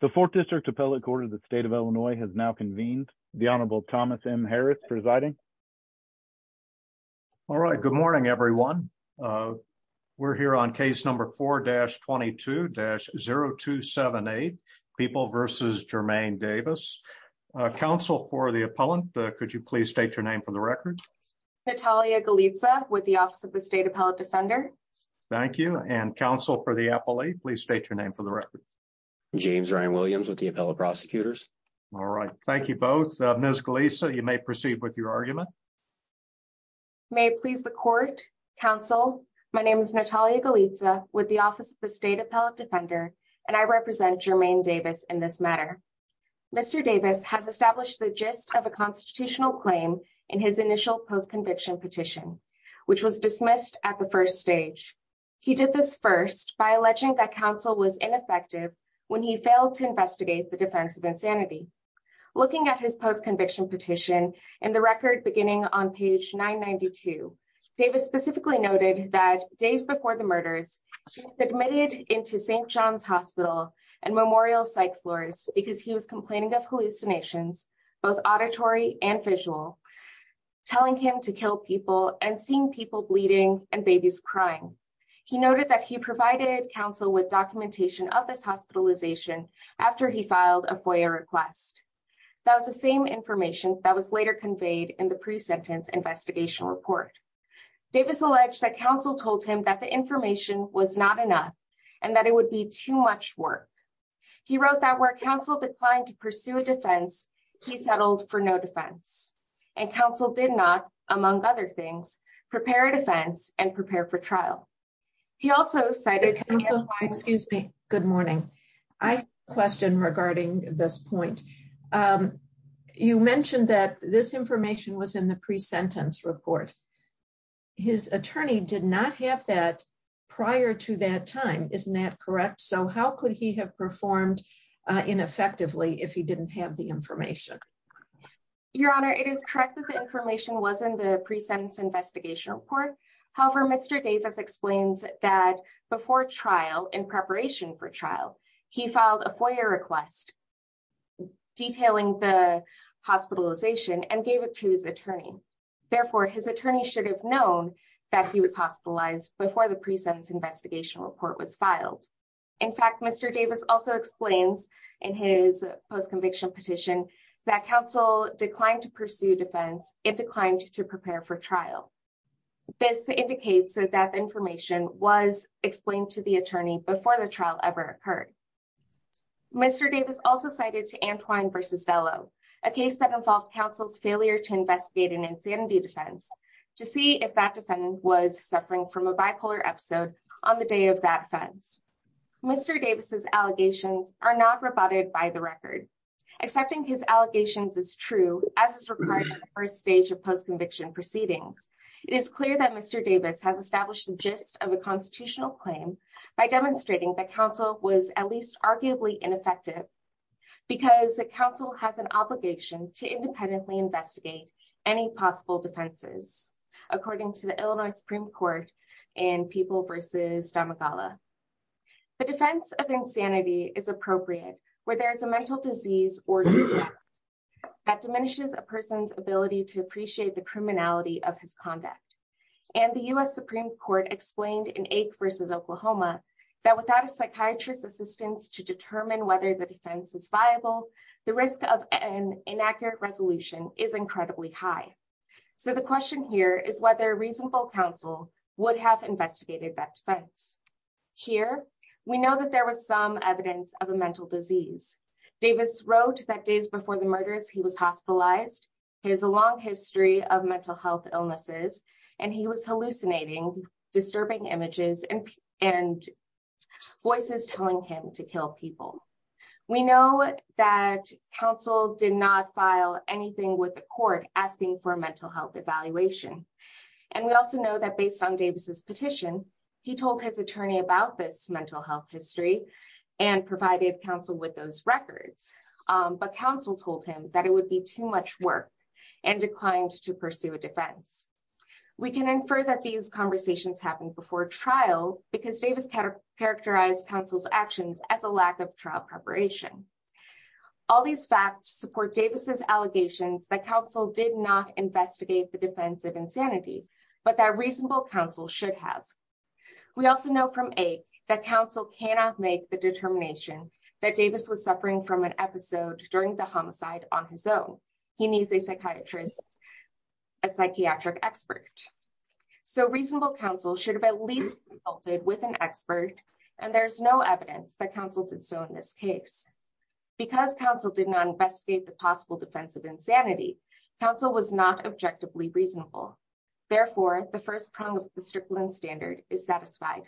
The 4th District Appellate Court of the state of Illinois has now convened the Honorable Thomas M. Harris presiding. All right. Good morning, everyone. We're here on case number 4-22-0278 People v. Jermaine Davis. Counsel for the appellant. Could you please state your name for the record? Natalia Galitza with the Office of the State Appellate Defender. Thank you. And counsel for the appellate. Please state your name for the record. James Ryan Williams with the Appellate Prosecutors. All right. Thank you both. Ms. Galitza, you may proceed with your argument. May it please the court, counsel. My name is Natalia Galitza with the Office of the State Appellate Defender and I represent Jermaine Davis in this matter. Mr. Davis has established the gist of a constitutional claim in his initial post-conviction petition, which was dismissed at the first stage. He did this first by alleging that counsel was ineffective when he failed to investigate the defense of insanity. Looking at his post-conviction petition in the record beginning on page 992, Davis specifically noted that days before the murders, he was admitted into St. John's Hospital and Memorial psych floors because he was complaining of hallucinations, both auditory and visual, telling him to kill people and seeing people bleeding and babies crying. He noted that he provided counsel with documentation of this hospitalization after he filed a FOIA request. That was the same information that was later conveyed in the pre-sentence investigation report. Davis alleged that counsel told him that the information was not enough and that it would be too much work. He wrote that where counsel declined to pursue a defense, he settled for no defense and counsel did not, among other things, prepare a defense and prepare for trial. He also cited counsel. Excuse me. Good morning. I have a question regarding this point. You mentioned that this information was in the pre-sentence report. His attorney did not have that prior to that time. Isn't that correct? So how could he have performed ineffectively if he didn't have the information? Your Honor, it is correct that the information was in the pre-sentence investigation report. However, Mr. Davis explains that before trial, in preparation for trial, he filed a FOIA request detailing the hospitalization and gave it to his attorney. Therefore, his attorney should have known that he was hospitalized before the pre-sentence investigation report was filed. In fact, Mr. Davis also explains in his post-conviction petition that counsel declined to pursue defense and declined to prepare for trial. This indicates that that information was explained to the attorney before the trial ever occurred. Mr. Davis also cited to Antwine v. Velo, a case that involved counsel's failure to investigate an insanity defense, to see if that defendant was suffering from a bipolar episode on the day of that offense. Mr. Davis's allegations are not rebutted by the record. Accepting his allegations is true, as is required in the first stage of post-conviction proceedings. It is clear that Mr. Davis has established the gist of a constitutional claim by demonstrating that counsel was at least arguably ineffective because counsel has an obligation to independently investigate any possible defenses, according to the Illinois Supreme Court and People v. Damagalla. The defense of insanity is appropriate where there is a mental disease or subject that diminishes a person's ability to appreciate the criminality of his conduct. And the U.S. Supreme Court explained in Ake v. Oklahoma that without a psychiatrist's assistance to determine whether the defense is viable, the risk of an inaccurate resolution is incredibly high. So the question here is whether reasonable counsel would have investigated that defense. Here, we know that there was some evidence of a mental disease. Davis wrote that days before the murders, he was hospitalized. He has a long history of mental health illnesses, and he was hallucinating, disturbing images and voices telling him to kill people. We know that counsel did not file anything with the court asking for a mental health evaluation. And we also know that based on Davis's petition, he told his attorney about this mental health history and provided counsel with those records. But counsel told him that it would be too much work and declined to pursue a defense. We can infer that these conversations happened before trial because Davis characterized counsel's actions as a lack of trial preparation. All these facts support Davis's allegations that counsel did not investigate the defense of insanity, but that reasonable counsel should have. We also know from Ake that counsel cannot make the determination that Davis was suffering from an episode during the homicide on his own. He needs a psychiatrist, a psychiatric expert. So reasonable counsel should have at least consulted with an expert, and there's no evidence that counsel did so in this case. Because counsel did not investigate the possible defense of insanity, counsel was not objectively reasonable. Therefore, the first prong of the Strickland standard is satisfied.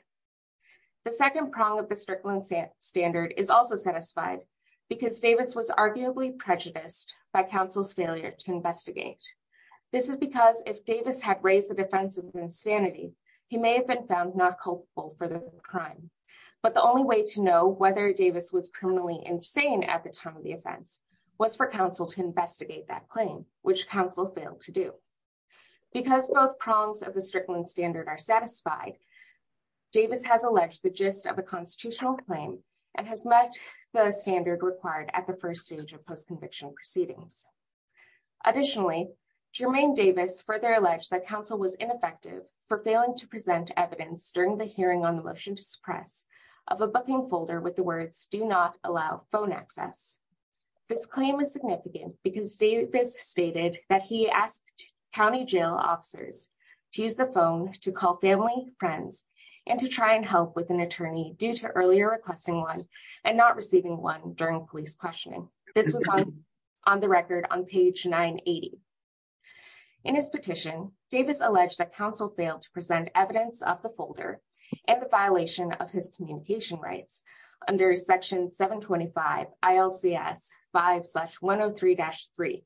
The second prong of the Strickland standard is also satisfied because Davis was arguably prejudiced by counsel's failure to investigate. This is because if Davis had raised the defense of insanity, he may have been found not culpable for the crime. But the only way to know whether Davis was criminally insane at the time of the offense was for counsel to investigate that claim, which counsel failed to do. Because both prongs of the Strickland standard are satisfied, Davis has alleged the gist of a constitutional claim and has met the standard required at the first stage of post-conviction proceedings. Additionally, Jermaine Davis further alleged that counsel was ineffective for failing to present evidence during the hearing on the motion to suppress of a booking folder with the words, do not allow phone access. This claim is significant because Davis stated that he asked county jail officers to use the phone to call family, friends, and to try and help with an attorney due to earlier requesting one and not receiving one during police questioning. This was on the record on page 980. In his petition, Davis alleged that counsel failed to present evidence of the folder and the violation of his communication rights under section 725 ILCS 5-103-3.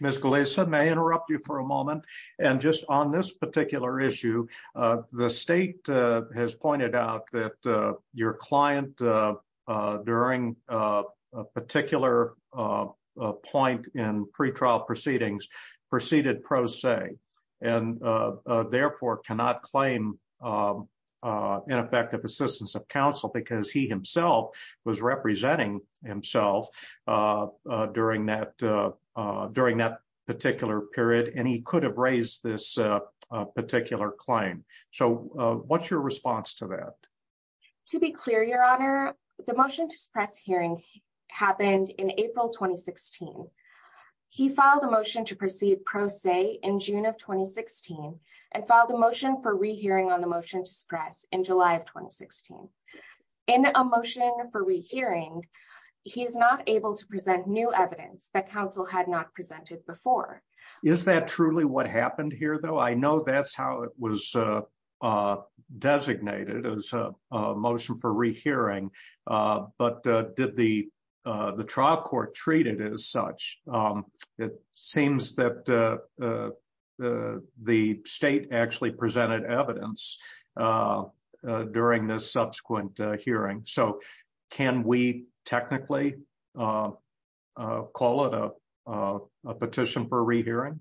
Ms. Gillespie, may I interrupt you for a moment? And just on this particular issue, the state has pointed out that your client during a particular point in pretrial proceedings proceeded pro se and therefore cannot claim ineffective assistance of counsel because he himself was representing himself during that particular period and he could have raised this particular claim. So what's your response to that? To be clear, Your Honor, the motion to suppress hearing happened in April 2016. He filed a motion to proceed pro se in June of 2016 and filed a motion for rehearing on the motion to suppress in July of 2016. In a motion for rehearing, he is not able to present new evidence that counsel had not presented before. Is that truly what happened here, though? I know that's how it was designated as a motion for rehearing, but did the trial court treat it as such? It seems that the state actually presented evidence during this subsequent hearing. So can we technically call it a petition for rehearing?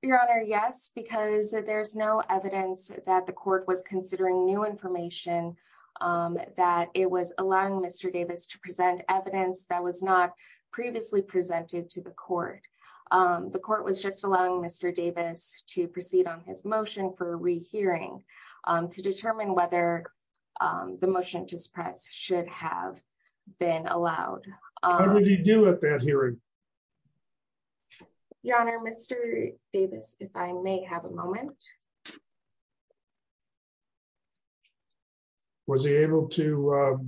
Your Honor, yes, because there's no evidence that the court was considering new information that it was allowing Mr. Davis to present evidence that was not previously presented to the court. The court was just allowing Mr. Davis to proceed on his motion for a rehearing to determine whether the motion to suppress should have been allowed. What did he do at that hearing? Your Honor, Mr. Davis, if I may have a moment. Was he able to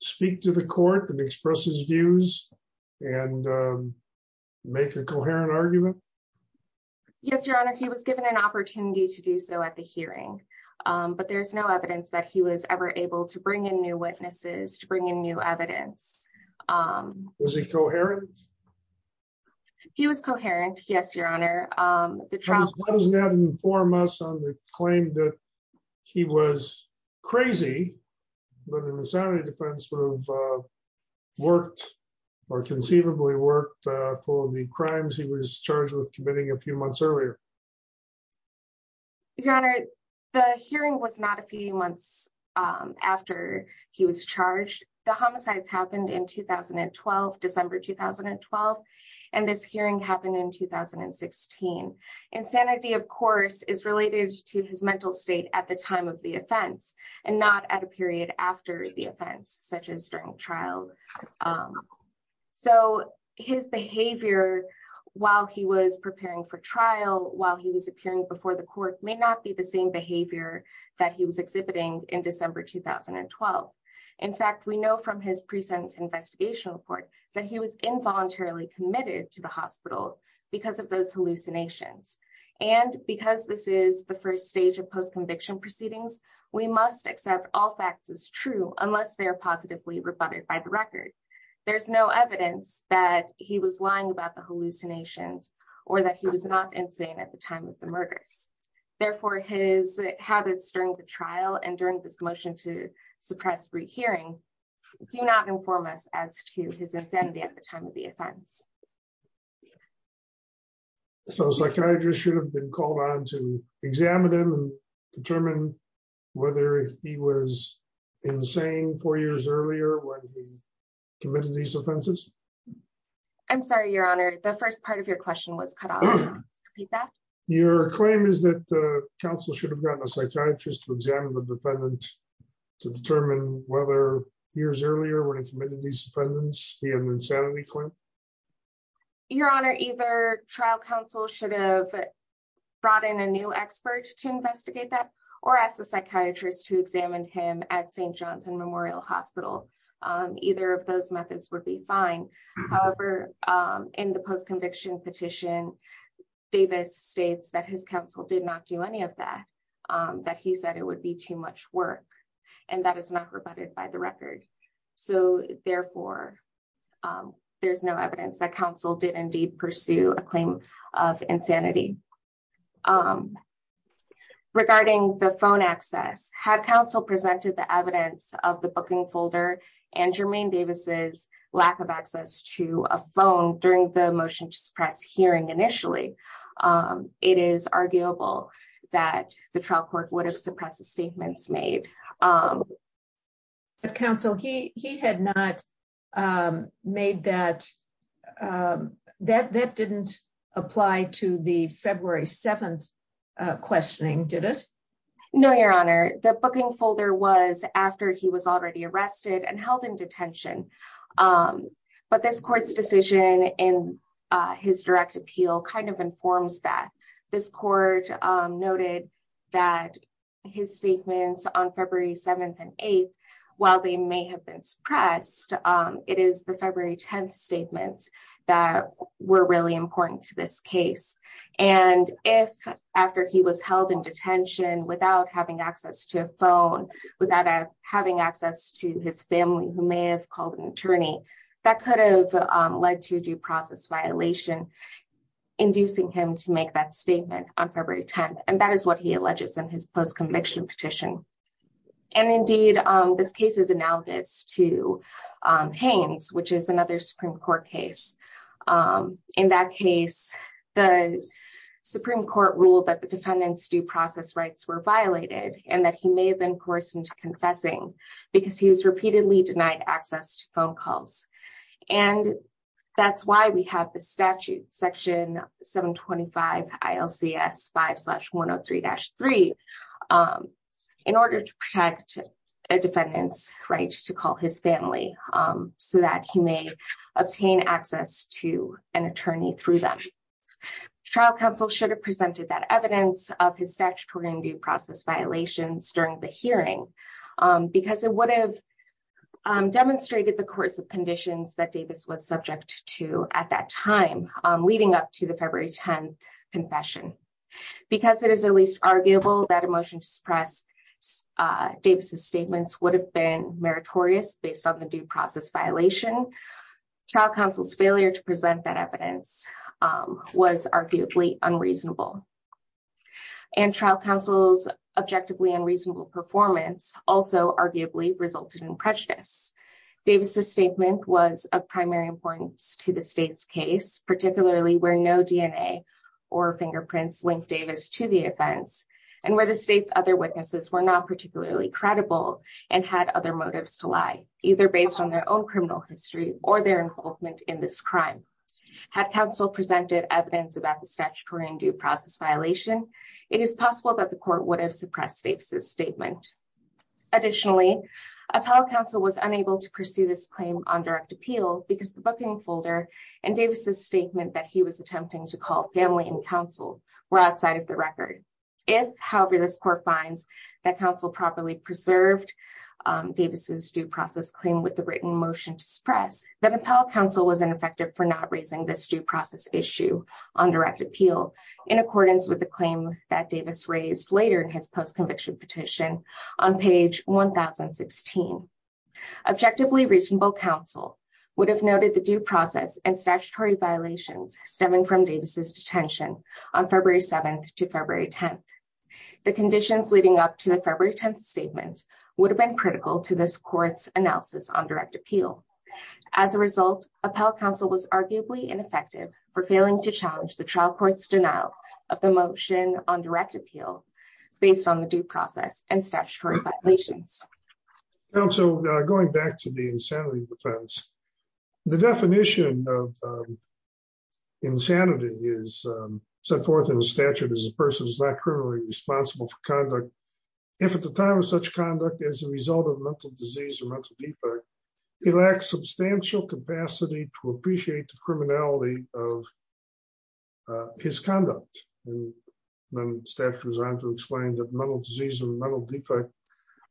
speak to the court and express his views and make a coherent argument? Yes, Your Honor. He was given an opportunity to do so at the hearing, but there's no evidence that he was ever able to bring in new witnesses to bring in new evidence. Was he coherent? He was coherent. Yes, Your Honor. Why does that inform us on the claim that he was crazy, but in the Sanity Defense would have worked or conceivably worked for the crimes he was charged with committing a few months earlier? Your Honor, the hearing was not a few months after he was charged. The homicides happened in 2012, December 2012, and this hearing happened in 2016. Insanity, of course, is related to his mental state at the time of the offense and not at a period after the offense, such as during trial. So his behavior while he was preparing for trial, while he was appearing before the court, may not be the same behavior that he was exhibiting in December 2012. In fact, we know from his present investigation report that he was involuntarily committed to the hospital because of those hallucinations. And because this is the first stage of post-conviction proceedings, we must accept all facts as true unless they are positively rebutted by the record. There's no evidence that he was lying about the hallucinations or that he was not insane at the time of the murders. Therefore, his habits during the trial and during this motion to suppress re-hearing do not inform us as to his insanity at the time of the offense. So psychiatrists should have been called on to examine him and determine whether he was insane four years earlier when he committed these offenses? I'm sorry, Your Honor. The first part of your question was cut off. Repeat that? Your claim is that the counsel should have gotten a psychiatrist to examine the defendant to determine whether years earlier when he committed these offenses, he had an insanity claim? Your Honor, either trial counsel should have brought in a new expert to investigate that or ask the psychiatrist to examine him at St. Johnson Memorial Hospital. Either of those methods would be fine. However, in the post-conviction petition, Davis states that his counsel did not do any of that, that he said it would be too much work and that is not rebutted by the record. So therefore, there's no evidence that counsel did indeed pursue a claim of insanity. Regarding the phone access, had counsel presented the evidence of the booking folder and Jermaine Davis's lack of access to a phone during the motion to suppress hearing initially, it is arguable that the trial court would have suppressed the statements made. But counsel, he had not made that, that didn't apply to the February 7th questioning, did it? No, Your Honor. The booking folder was after he was already arrested and held in detention. But this court's decision in his direct appeal kind of informs that. This court noted that his statements on February 7th and 8th, while they may have been suppressed, it is the February 10th statements that were really important to this case. And if after he was held in detention without having access to a phone, without having access to his family, who may have called an attorney, that could have led to due process violation, inducing him to make that statement on February 10th. And that is what he alleges in his post-conviction petition. And indeed, this case is analogous to Haines, which is another Supreme Court case. In that case, the Supreme Court ruled that the defendant's due process rights were violated and that he may have been coerced into confessing because he was repeatedly denied access to phone calls. And that's why we have the statute, Section 725 ILCS 5-103-3, in order to protect a defendant's rights to call his family so that he may obtain access to an attorney through them. Trial counsel should have presented that evidence of his statutory and due process violations during the hearing because it would have demonstrated the coercive conditions that Davis was subject to at that time, leading up to the February 10th confession. Because it is at least arguable that a motion to suppress Davis's statements would have been meritorious based on the due process violation. Trial counsel's failure to present that evidence was arguably unreasonable. And trial counsel's objectively unreasonable performance also arguably resulted in prejudice. Davis's statement was of primary importance to the state's case, particularly where no DNA or fingerprints linked Davis to the offense. And where the state's other witnesses were not particularly credible and had other motives to lie, either based on their own criminal history or their involvement in this crime. Had counsel presented evidence about the statutory and due process violation, it is possible that the court would have suppressed Davis's statement. Additionally, appellate counsel was unable to pursue this claim on direct appeal because the booking folder and Davis's statement that he was attempting to call family and counsel were outside of the record. If, however, this court finds that counsel properly preserved Davis's due process claim with the written motion to suppress, then appellate counsel was ineffective for not raising this due process issue on direct appeal in accordance with the claim that Davis raised later in his post-conviction petition on page 1016. Objectively reasonable counsel would have noted the due process and statutory violations stemming from Davis's detention on February 7th to February 10th. The conditions leading up to the February 10th statements would have been critical to this court's analysis on direct appeal. As a result, appellate counsel was arguably ineffective for failing to challenge the trial court's denial of the motion on direct appeal based on the due process and statutory violations. Counsel, going back to the insanity defense, the definition of insanity is set forth in the statute as a person who is not criminally responsible for conduct. If at the time of such conduct, as a result of mental disease or mental defect, he lacks substantial capacity to appreciate the criminality of his conduct. And then the statute goes on to explain that mental disease or mental defect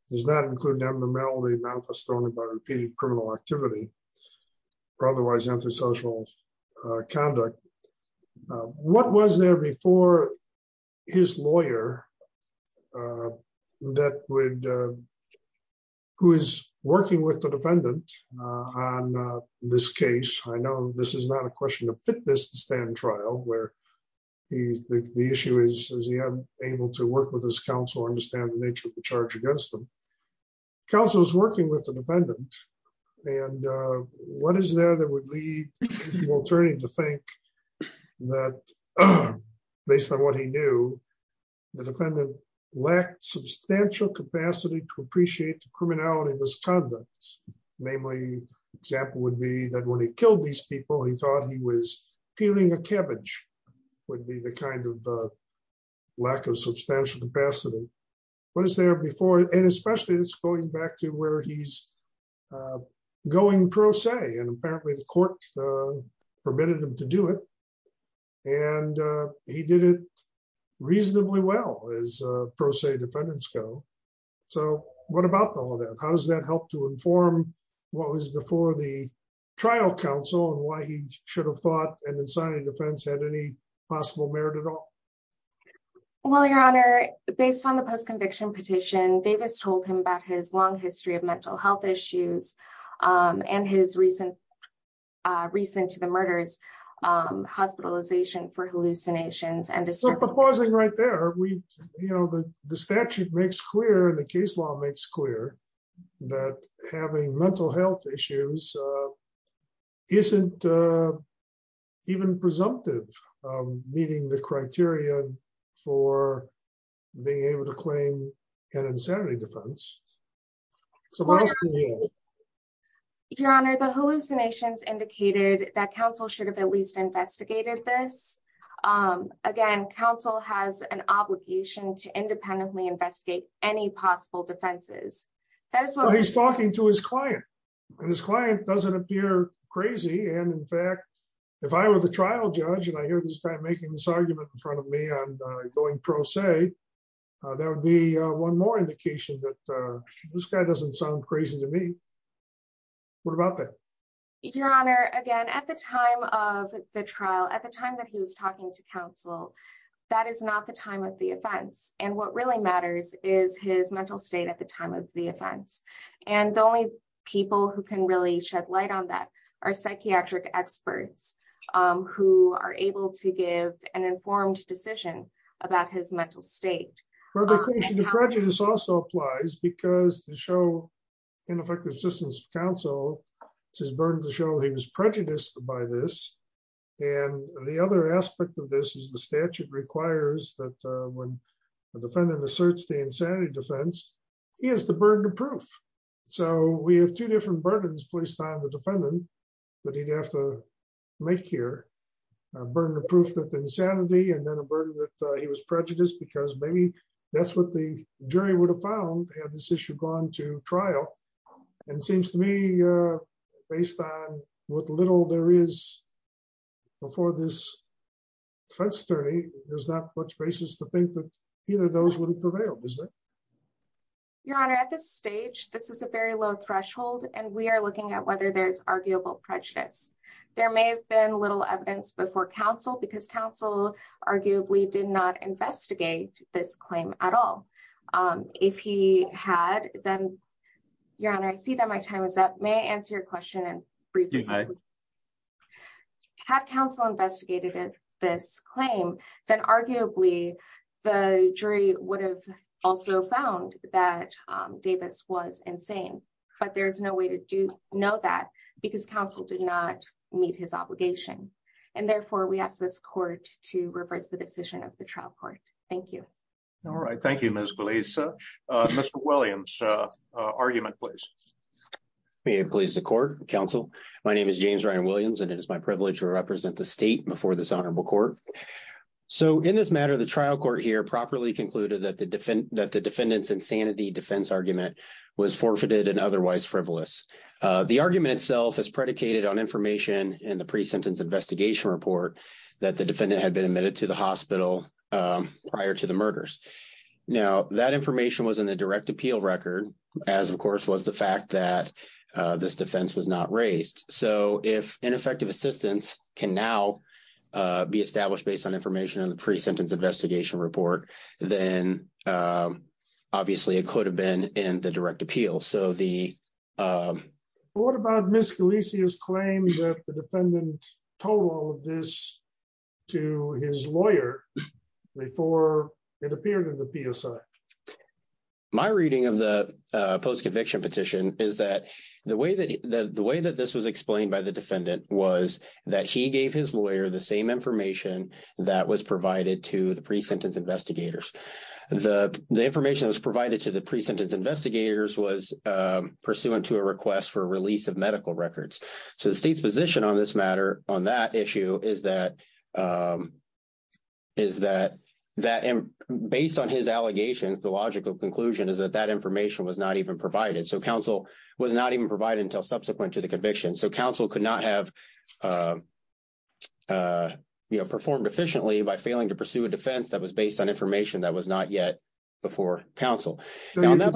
does not include abnormality manifested only by repeated criminal activity or otherwise antisocial conduct. What was there before his lawyer that would, who is working with the defendant on this case? I know this is not a question of fitness to stand trial where the issue is, is he unable to work with his counsel and understand the nature of the charge against him. Counsel is working with the defendant and what is there that would lead the attorney to think that based on what he knew, the defendant lacked substantial capacity to appreciate the criminality of his conduct. Namely, example would be that when he killed these people, he thought he was peeling a cabbage would be the kind of lack of substantial capacity. What is there before, and especially it's going back to where he's going pro se and apparently the court permitted him to do it. And he did it reasonably well as pro se defendants go. So what about all of that? How does that help to inform what was before the trial counsel and why he should have thought an insanity defense had any possible merit at all? Well, your honor, based on the post conviction petition, Davis told him about his long history of mental health issues and his recent to the murders hospitalization for hallucinations. Right there. We, you know, the statute makes clear in the case law makes clear that having mental health issues isn't even presumptive meeting the criteria for being able to claim an insanity defense. Your honor, the hallucinations indicated that counsel should have at least investigated this. Again, counsel has an obligation to independently investigate any possible defenses. He's talking to his client and his client doesn't appear crazy. And in fact, if I were the trial judge and I hear this guy making this argument in front of me, I'm going pro se. That would be one more indication that this guy doesn't sound crazy to me. What about that? Your honor, again, at the time of the trial, at the time that he was talking to counsel, that is not the time of the offense. And what really matters is his mental state at the time of the offense. And the only people who can really shed light on that are psychiatric experts who are able to give an informed decision about his mental state. Well, the question of prejudice also applies because to show ineffective assistance of counsel, it's his burden to show he was prejudiced by this. And the other aspect of this is the statute requires that when the defendant asserts the insanity defense, he has the burden of proof. So we have two different burdens placed on the defendant that he'd have to make here. A burden of proof that the insanity and then a burden that he was prejudiced because maybe that's what the jury would have found had this issue gone to trial. And it seems to me based on what little there is before this, there's not much basis to think that either of those would prevail. Your honor, at this stage, this is a very low threshold and we are looking at whether there's arguable prejudice. There may have been little evidence before counsel because counsel arguably did not investigate this claim at all. If he had, then your honor, I see that my time is up. May I answer your question? You may. Had counsel investigated this claim, then arguably the jury would have also found that Davis was insane. But there's no way to know that because counsel did not meet his obligation. And therefore, we ask this court to reverse the decision of the trial court. Thank you. All right. Thank you, Ms. Glaser. Mr. Williams, argument please. May it please the court, counsel. My name is James Ryan Williams and it is my privilege to represent the state before this honorable court. So in this matter, the trial court here properly concluded that the defendants insanity defense argument was forfeited and otherwise frivolous. The argument itself is predicated on information in the pre-sentence investigation report that the defendant had been admitted to the hospital prior to the murders. Now, that information was in the direct appeal record, as of course was the fact that this defense was not raised. So if ineffective assistance can now be established based on information in the pre-sentence investigation report, then obviously it could have been in the direct appeal. So the what about Miss Galicia's claim that the defendant told this to his lawyer before it appeared in the PSI? My reading of the post-conviction petition is that the way that the way that this was explained by the defendant was that he gave his lawyer the same information that was provided to the pre-sentence investigators. The information that was provided to the pre-sentence investigators was pursuant to a request for release of medical records. So the state's position on this matter, on that issue, is that based on his allegations, the logical conclusion is that that information was not even provided. So counsel was not even provided until subsequent to the conviction. So counsel could not have performed efficiently by failing to pursue a defense that was based on information that was not yet before counsel. Go ahead.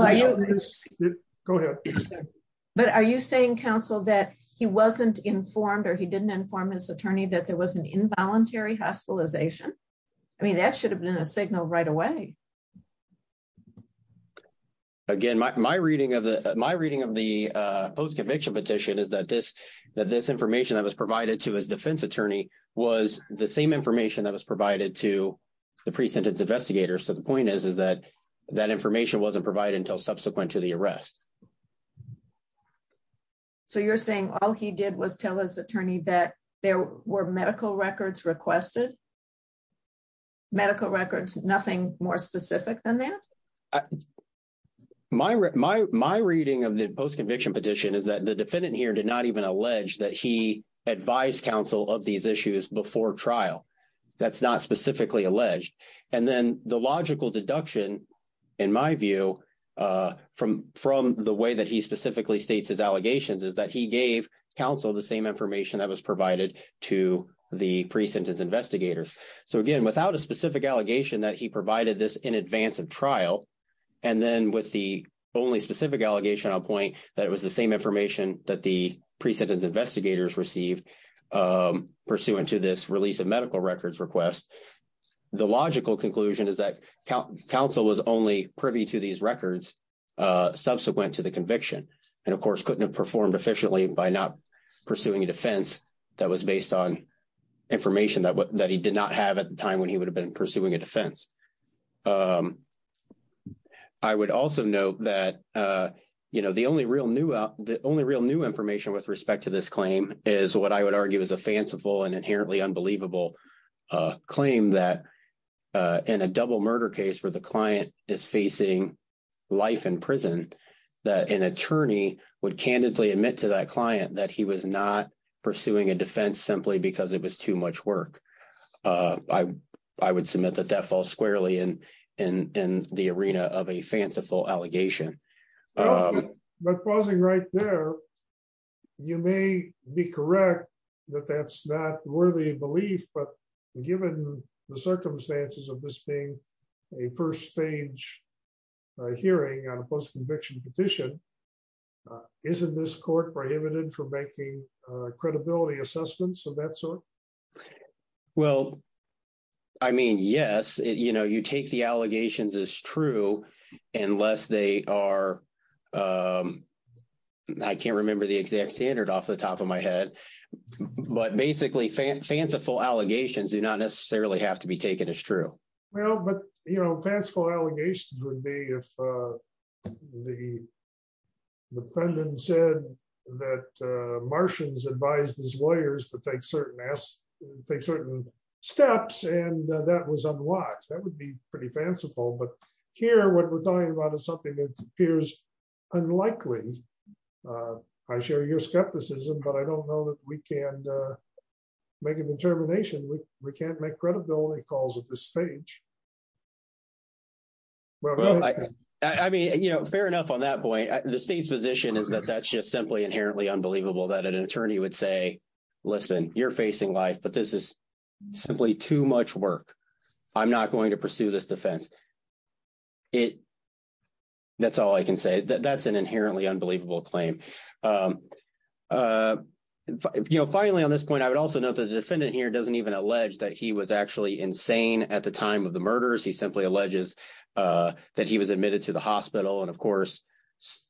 But are you saying, counsel, that he wasn't informed or he didn't inform his attorney that there was an involuntary hospitalization? I mean, that should have been a signal right away. Again, my reading of the post-conviction petition is that this information that was provided to his defense attorney was the same information that was provided to the pre-sentence investigators. So the point is that that information wasn't provided until subsequent to the arrest. So you're saying all he did was tell his attorney that there were medical records requested? Medical records, nothing more specific than that? My reading of the post-conviction petition is that the defendant here did not even allege that he advised counsel of these issues before trial. That's not specifically alleged. And then the logical deduction, in my view, from the way that he specifically states his allegations is that he gave counsel the same information that was provided to the pre-sentence investigators. So again, without a specific allegation that he provided this in advance of trial, and then with the only specific allegation, I'll point that it was the same information that the pre-sentence investigators received pursuant to this release of medical records request. The logical conclusion is that counsel was only privy to these records subsequent to the conviction. And of course, couldn't have performed efficiently by not pursuing a defense that was based on information that he did not have at the time when he would have been pursuing a defense. I would also note that the only real new information with respect to this claim is what I would argue is a fanciful and inherently unbelievable claim that in a double murder case where the client is facing life in prison, that an attorney would candidly admit to that client that he was not pursuing a defense simply because it was too much work. I would submit that that falls squarely in the arena of a fanciful allegation. But pausing right there, you may be correct that that's not worthy of belief, but given the circumstances of this being a first stage hearing on a post-conviction petition, isn't this court prohibited from making credibility assessments of that sort? Well, I mean, yes, you know, you take the allegations as true unless they are. I can't remember the exact standard off the top of my head, but basically fanciful allegations do not necessarily have to be taken as true. Well, but, you know, fanciful allegations would be if the defendant said that Martians advised his lawyers to take certain steps and that was unwatched. That would be pretty fanciful, but here what we're talking about is something that appears unlikely. I share your skepticism, but I don't know that we can make a determination. We can't make credibility calls at this stage. Well, I mean, you know, fair enough on that point. The state's position is that that's just simply inherently unbelievable that an attorney would say, listen, you're facing life, but this is simply too much work. I'm not going to pursue this defense. It – that's all I can say. That's an inherently unbelievable claim. You know, finally, on this point, I would also note that the defendant here doesn't even allege that he was actually insane at the time of the murders. He simply alleges that he was admitted to the hospital, and, of course,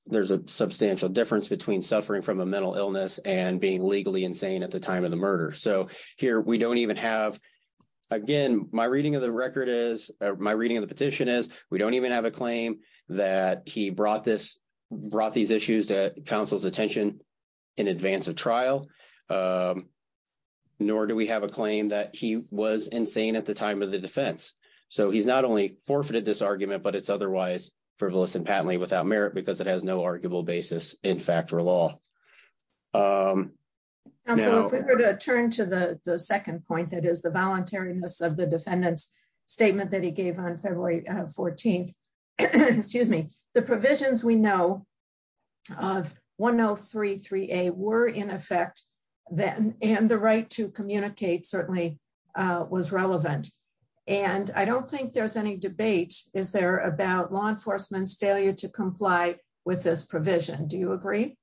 there's a substantial difference between suffering from a mental illness and being legally insane at the time of the murder. So here we don't even have – again, my reading of the record is – my reading of the petition is we don't even have a claim that he brought this – brought these issues to counsel's attention in advance of trial, nor do we have a claim that he was insane at the time of the defense. So he's not only forfeited this argument, but it's otherwise frivolous and patently without merit because it has no arguable basis in fact or law. Now – Counsel, if we were to turn to the second point, that is the voluntariness of the defendant's statement that he gave on February 14th – excuse me – the provisions we know of 103.3a were in effect, and the right to communicate certainly was relevant. And I don't think there's any debate, is there, about law enforcement's failure to comply with this provision. Do you agree?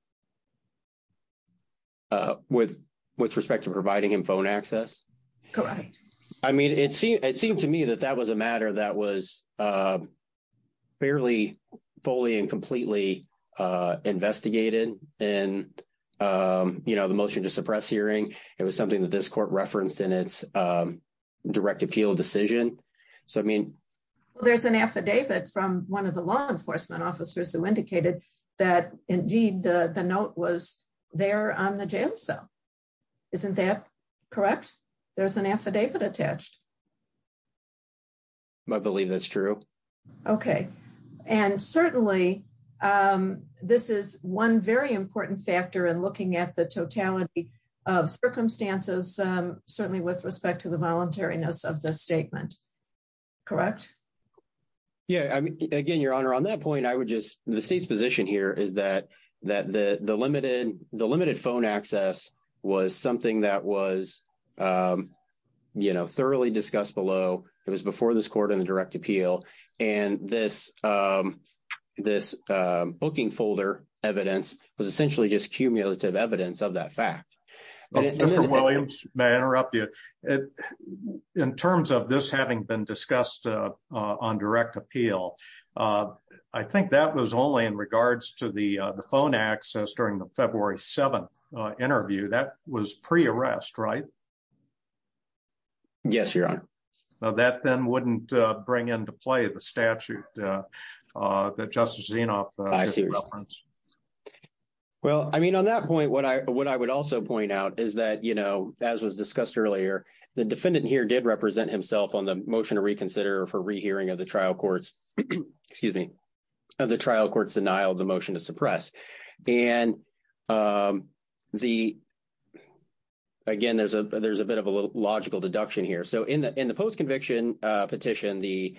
With respect to providing him phone access? Correct. I mean, it seemed to me that that was a matter that was fairly fully and completely investigated in the motion to suppress hearing. It was something that this court referenced in its direct appeal decision. So, I mean – Well, there's an affidavit from one of the law enforcement officers who indicated that, indeed, the note was there on the jail cell. Isn't that correct? There's an affidavit attached. I believe that's true. Okay. And certainly, this is one very important factor in looking at the totality of circumstances, certainly with respect to the voluntariness of the statement. Correct? Yeah. Again, Your Honor, on that point, I would just – the State's position here is that the limited phone access was something that was, you know, thoroughly discussed below. It was before this court in the direct appeal. And this booking folder evidence was essentially just cumulative evidence of that fact. Mr. Williams, may I interrupt you? In terms of this having been discussed on direct appeal, I think that was only in regards to the phone access during the February 7th interview. That was pre-arrest, right? Yes, Your Honor. That then wouldn't bring into play the statute that Justice Zinoff referenced. Well, I mean, on that point, what I would also point out is that, you know, as was discussed earlier, the defendant here did represent himself on the motion to reconsider for rehearing of the trial court's – excuse me – of the trial court's denial of the motion to suppress. And the – again, there's a bit of a logical deduction here. So in the post-conviction petition, the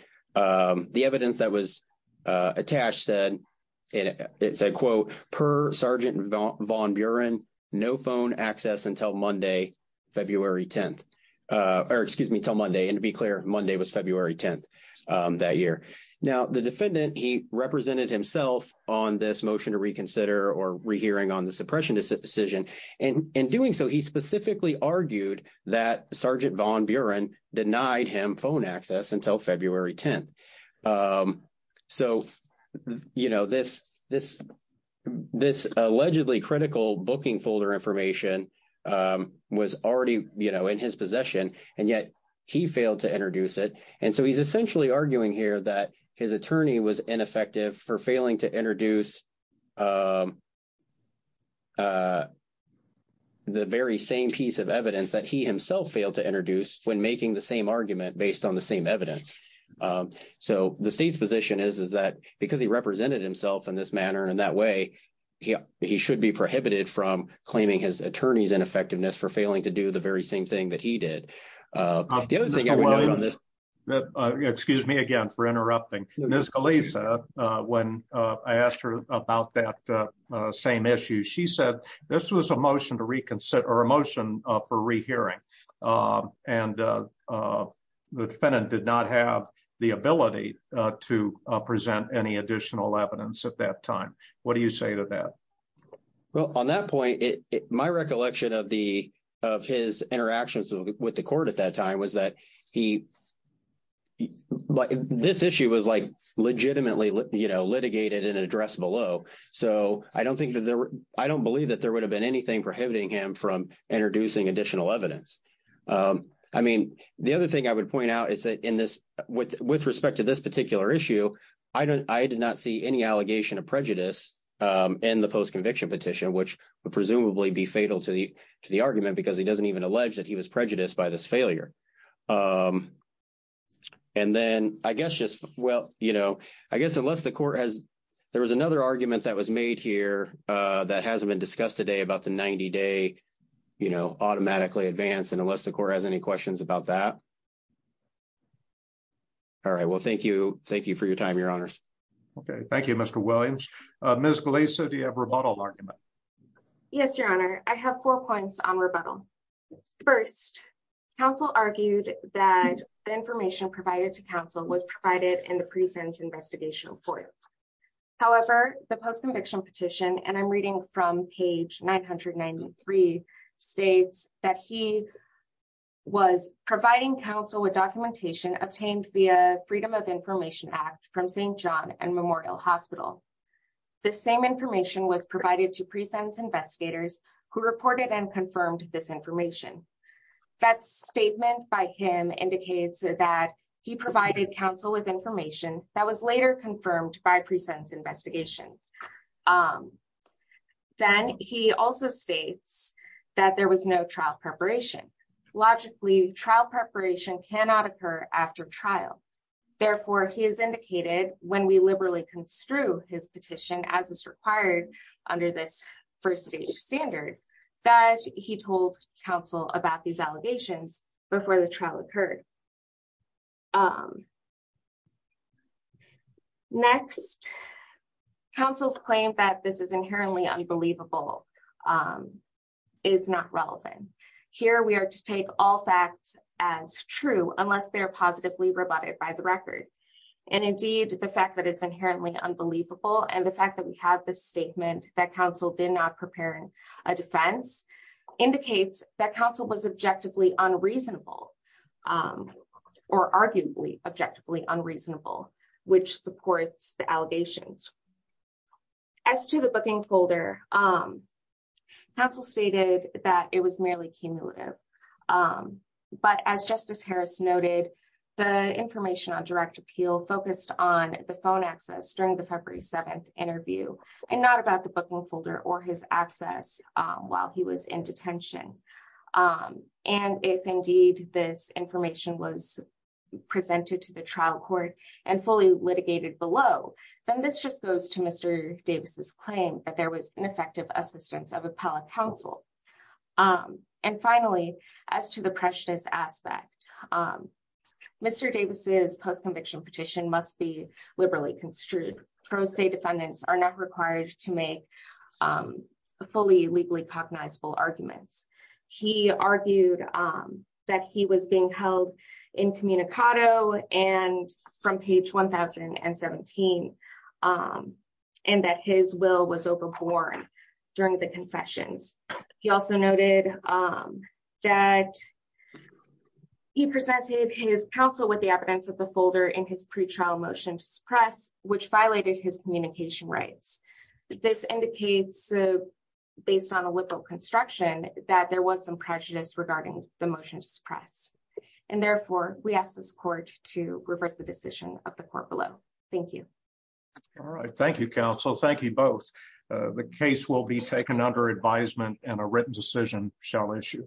evidence that was attached said – it said, quote, per Sergeant Von Buren, no phone access until Monday, February 10th – or excuse me, until Monday. And to be clear, Monday was February 10th that year. Now, the defendant, he represented himself on this motion to reconsider or rehearing on the suppression decision. And in doing so, he specifically argued that Sergeant Von Buren denied him phone access until February 10th. So this allegedly critical booking folder information was already in his possession, and yet he failed to introduce it. And so he's essentially arguing here that his attorney was ineffective for failing to introduce the very same piece of evidence that he himself failed to introduce when making the same argument based on the same evidence. So the state's position is, is that because he represented himself in this manner and in that way, he should be prohibited from claiming his attorney's ineffectiveness for failing to do the very same thing that he did. Excuse me again for interrupting. Ms. Galisa, when I asked her about that same issue, she said this was a motion to reconsider – or a motion for rehearing. And the defendant did not have the ability to present any additional evidence at that time. What do you say to that? Well, on that point, my recollection of the – of his interactions with the court at that time was that he – this issue was, like, legitimately, you know, litigated and addressed below. So I don't think that there – I don't believe that there would have been anything prohibiting him from introducing additional evidence. I mean, the other thing I would point out is that in this – with respect to this particular issue, I did not see any allegation of prejudice in the post-conviction petition, which would presumably be fatal to the argument because he doesn't even allege that he was prejudiced by this failure. And then I guess just – well, you know, I guess unless the court has – there was another argument that was made here that hasn't been discussed today about the 90-day, you know, automatically advance, and unless the court has any questions about that. All right. Well, thank you. Thank you for your time, Your Honors. Okay. Thank you, Mr. Williams. Ms. Galisa, do you have a rebuttal argument? Yes, Your Honor. I have four points on rebuttal. First, counsel argued that the information provided to counsel was provided in the present investigation report. However, the post-conviction petition – and I'm reading from page 993 – states that he was providing counsel with documentation obtained via Freedom of Information Act from St. John and Memorial Hospital. The same information was provided to pre-sentence investigators who reported and confirmed this information. That statement by him indicates that he provided counsel with information that was later confirmed by pre-sentence investigation. Then he also states that there was no trial preparation. Logically, trial preparation cannot occur after trial. Therefore, he has indicated, when we liberally construe his petition as is required under this first-stage standard, that he told counsel about these allegations before the trial occurred. Next, counsel's claim that this is inherently unbelievable is not relevant. Here, we are to take all facts as true unless they are positively rebutted by the record. Indeed, the fact that it's inherently unbelievable and the fact that we have this statement that counsel did not prepare a defense indicates that counsel was objectively unreasonable. Or, arguably, objectively unreasonable, which supports the allegations. As to the booking folder, counsel stated that it was merely cumulative. But, as Justice Harris noted, the information on direct appeal focused on the phone access during the February 7th interview and not about the booking folder or his access while he was in detention. And, if, indeed, this information was presented to the trial court and fully litigated below, then this just goes to Mr. Davis' claim that there was ineffective assistance of appellate counsel. And, finally, as to the precious aspect, Mr. Davis' post-conviction petition must be liberally construed. Pro se defendants are not required to make fully legally cognizable arguments. He argued that he was being held incommunicado from page 1017 and that his will was overborne during the confessions. He also noted that he presented his counsel with the evidence of the folder in his pretrial motion to suppress, which violated his communication rights. This indicates, based on a liberal construction, that there was some prejudice regarding the motion to suppress. And, therefore, we ask this court to reverse the decision of the court below. Thank you. All right. Thank you, counsel. Thank you both. The case will be taken under advisement and a written decision shall issue.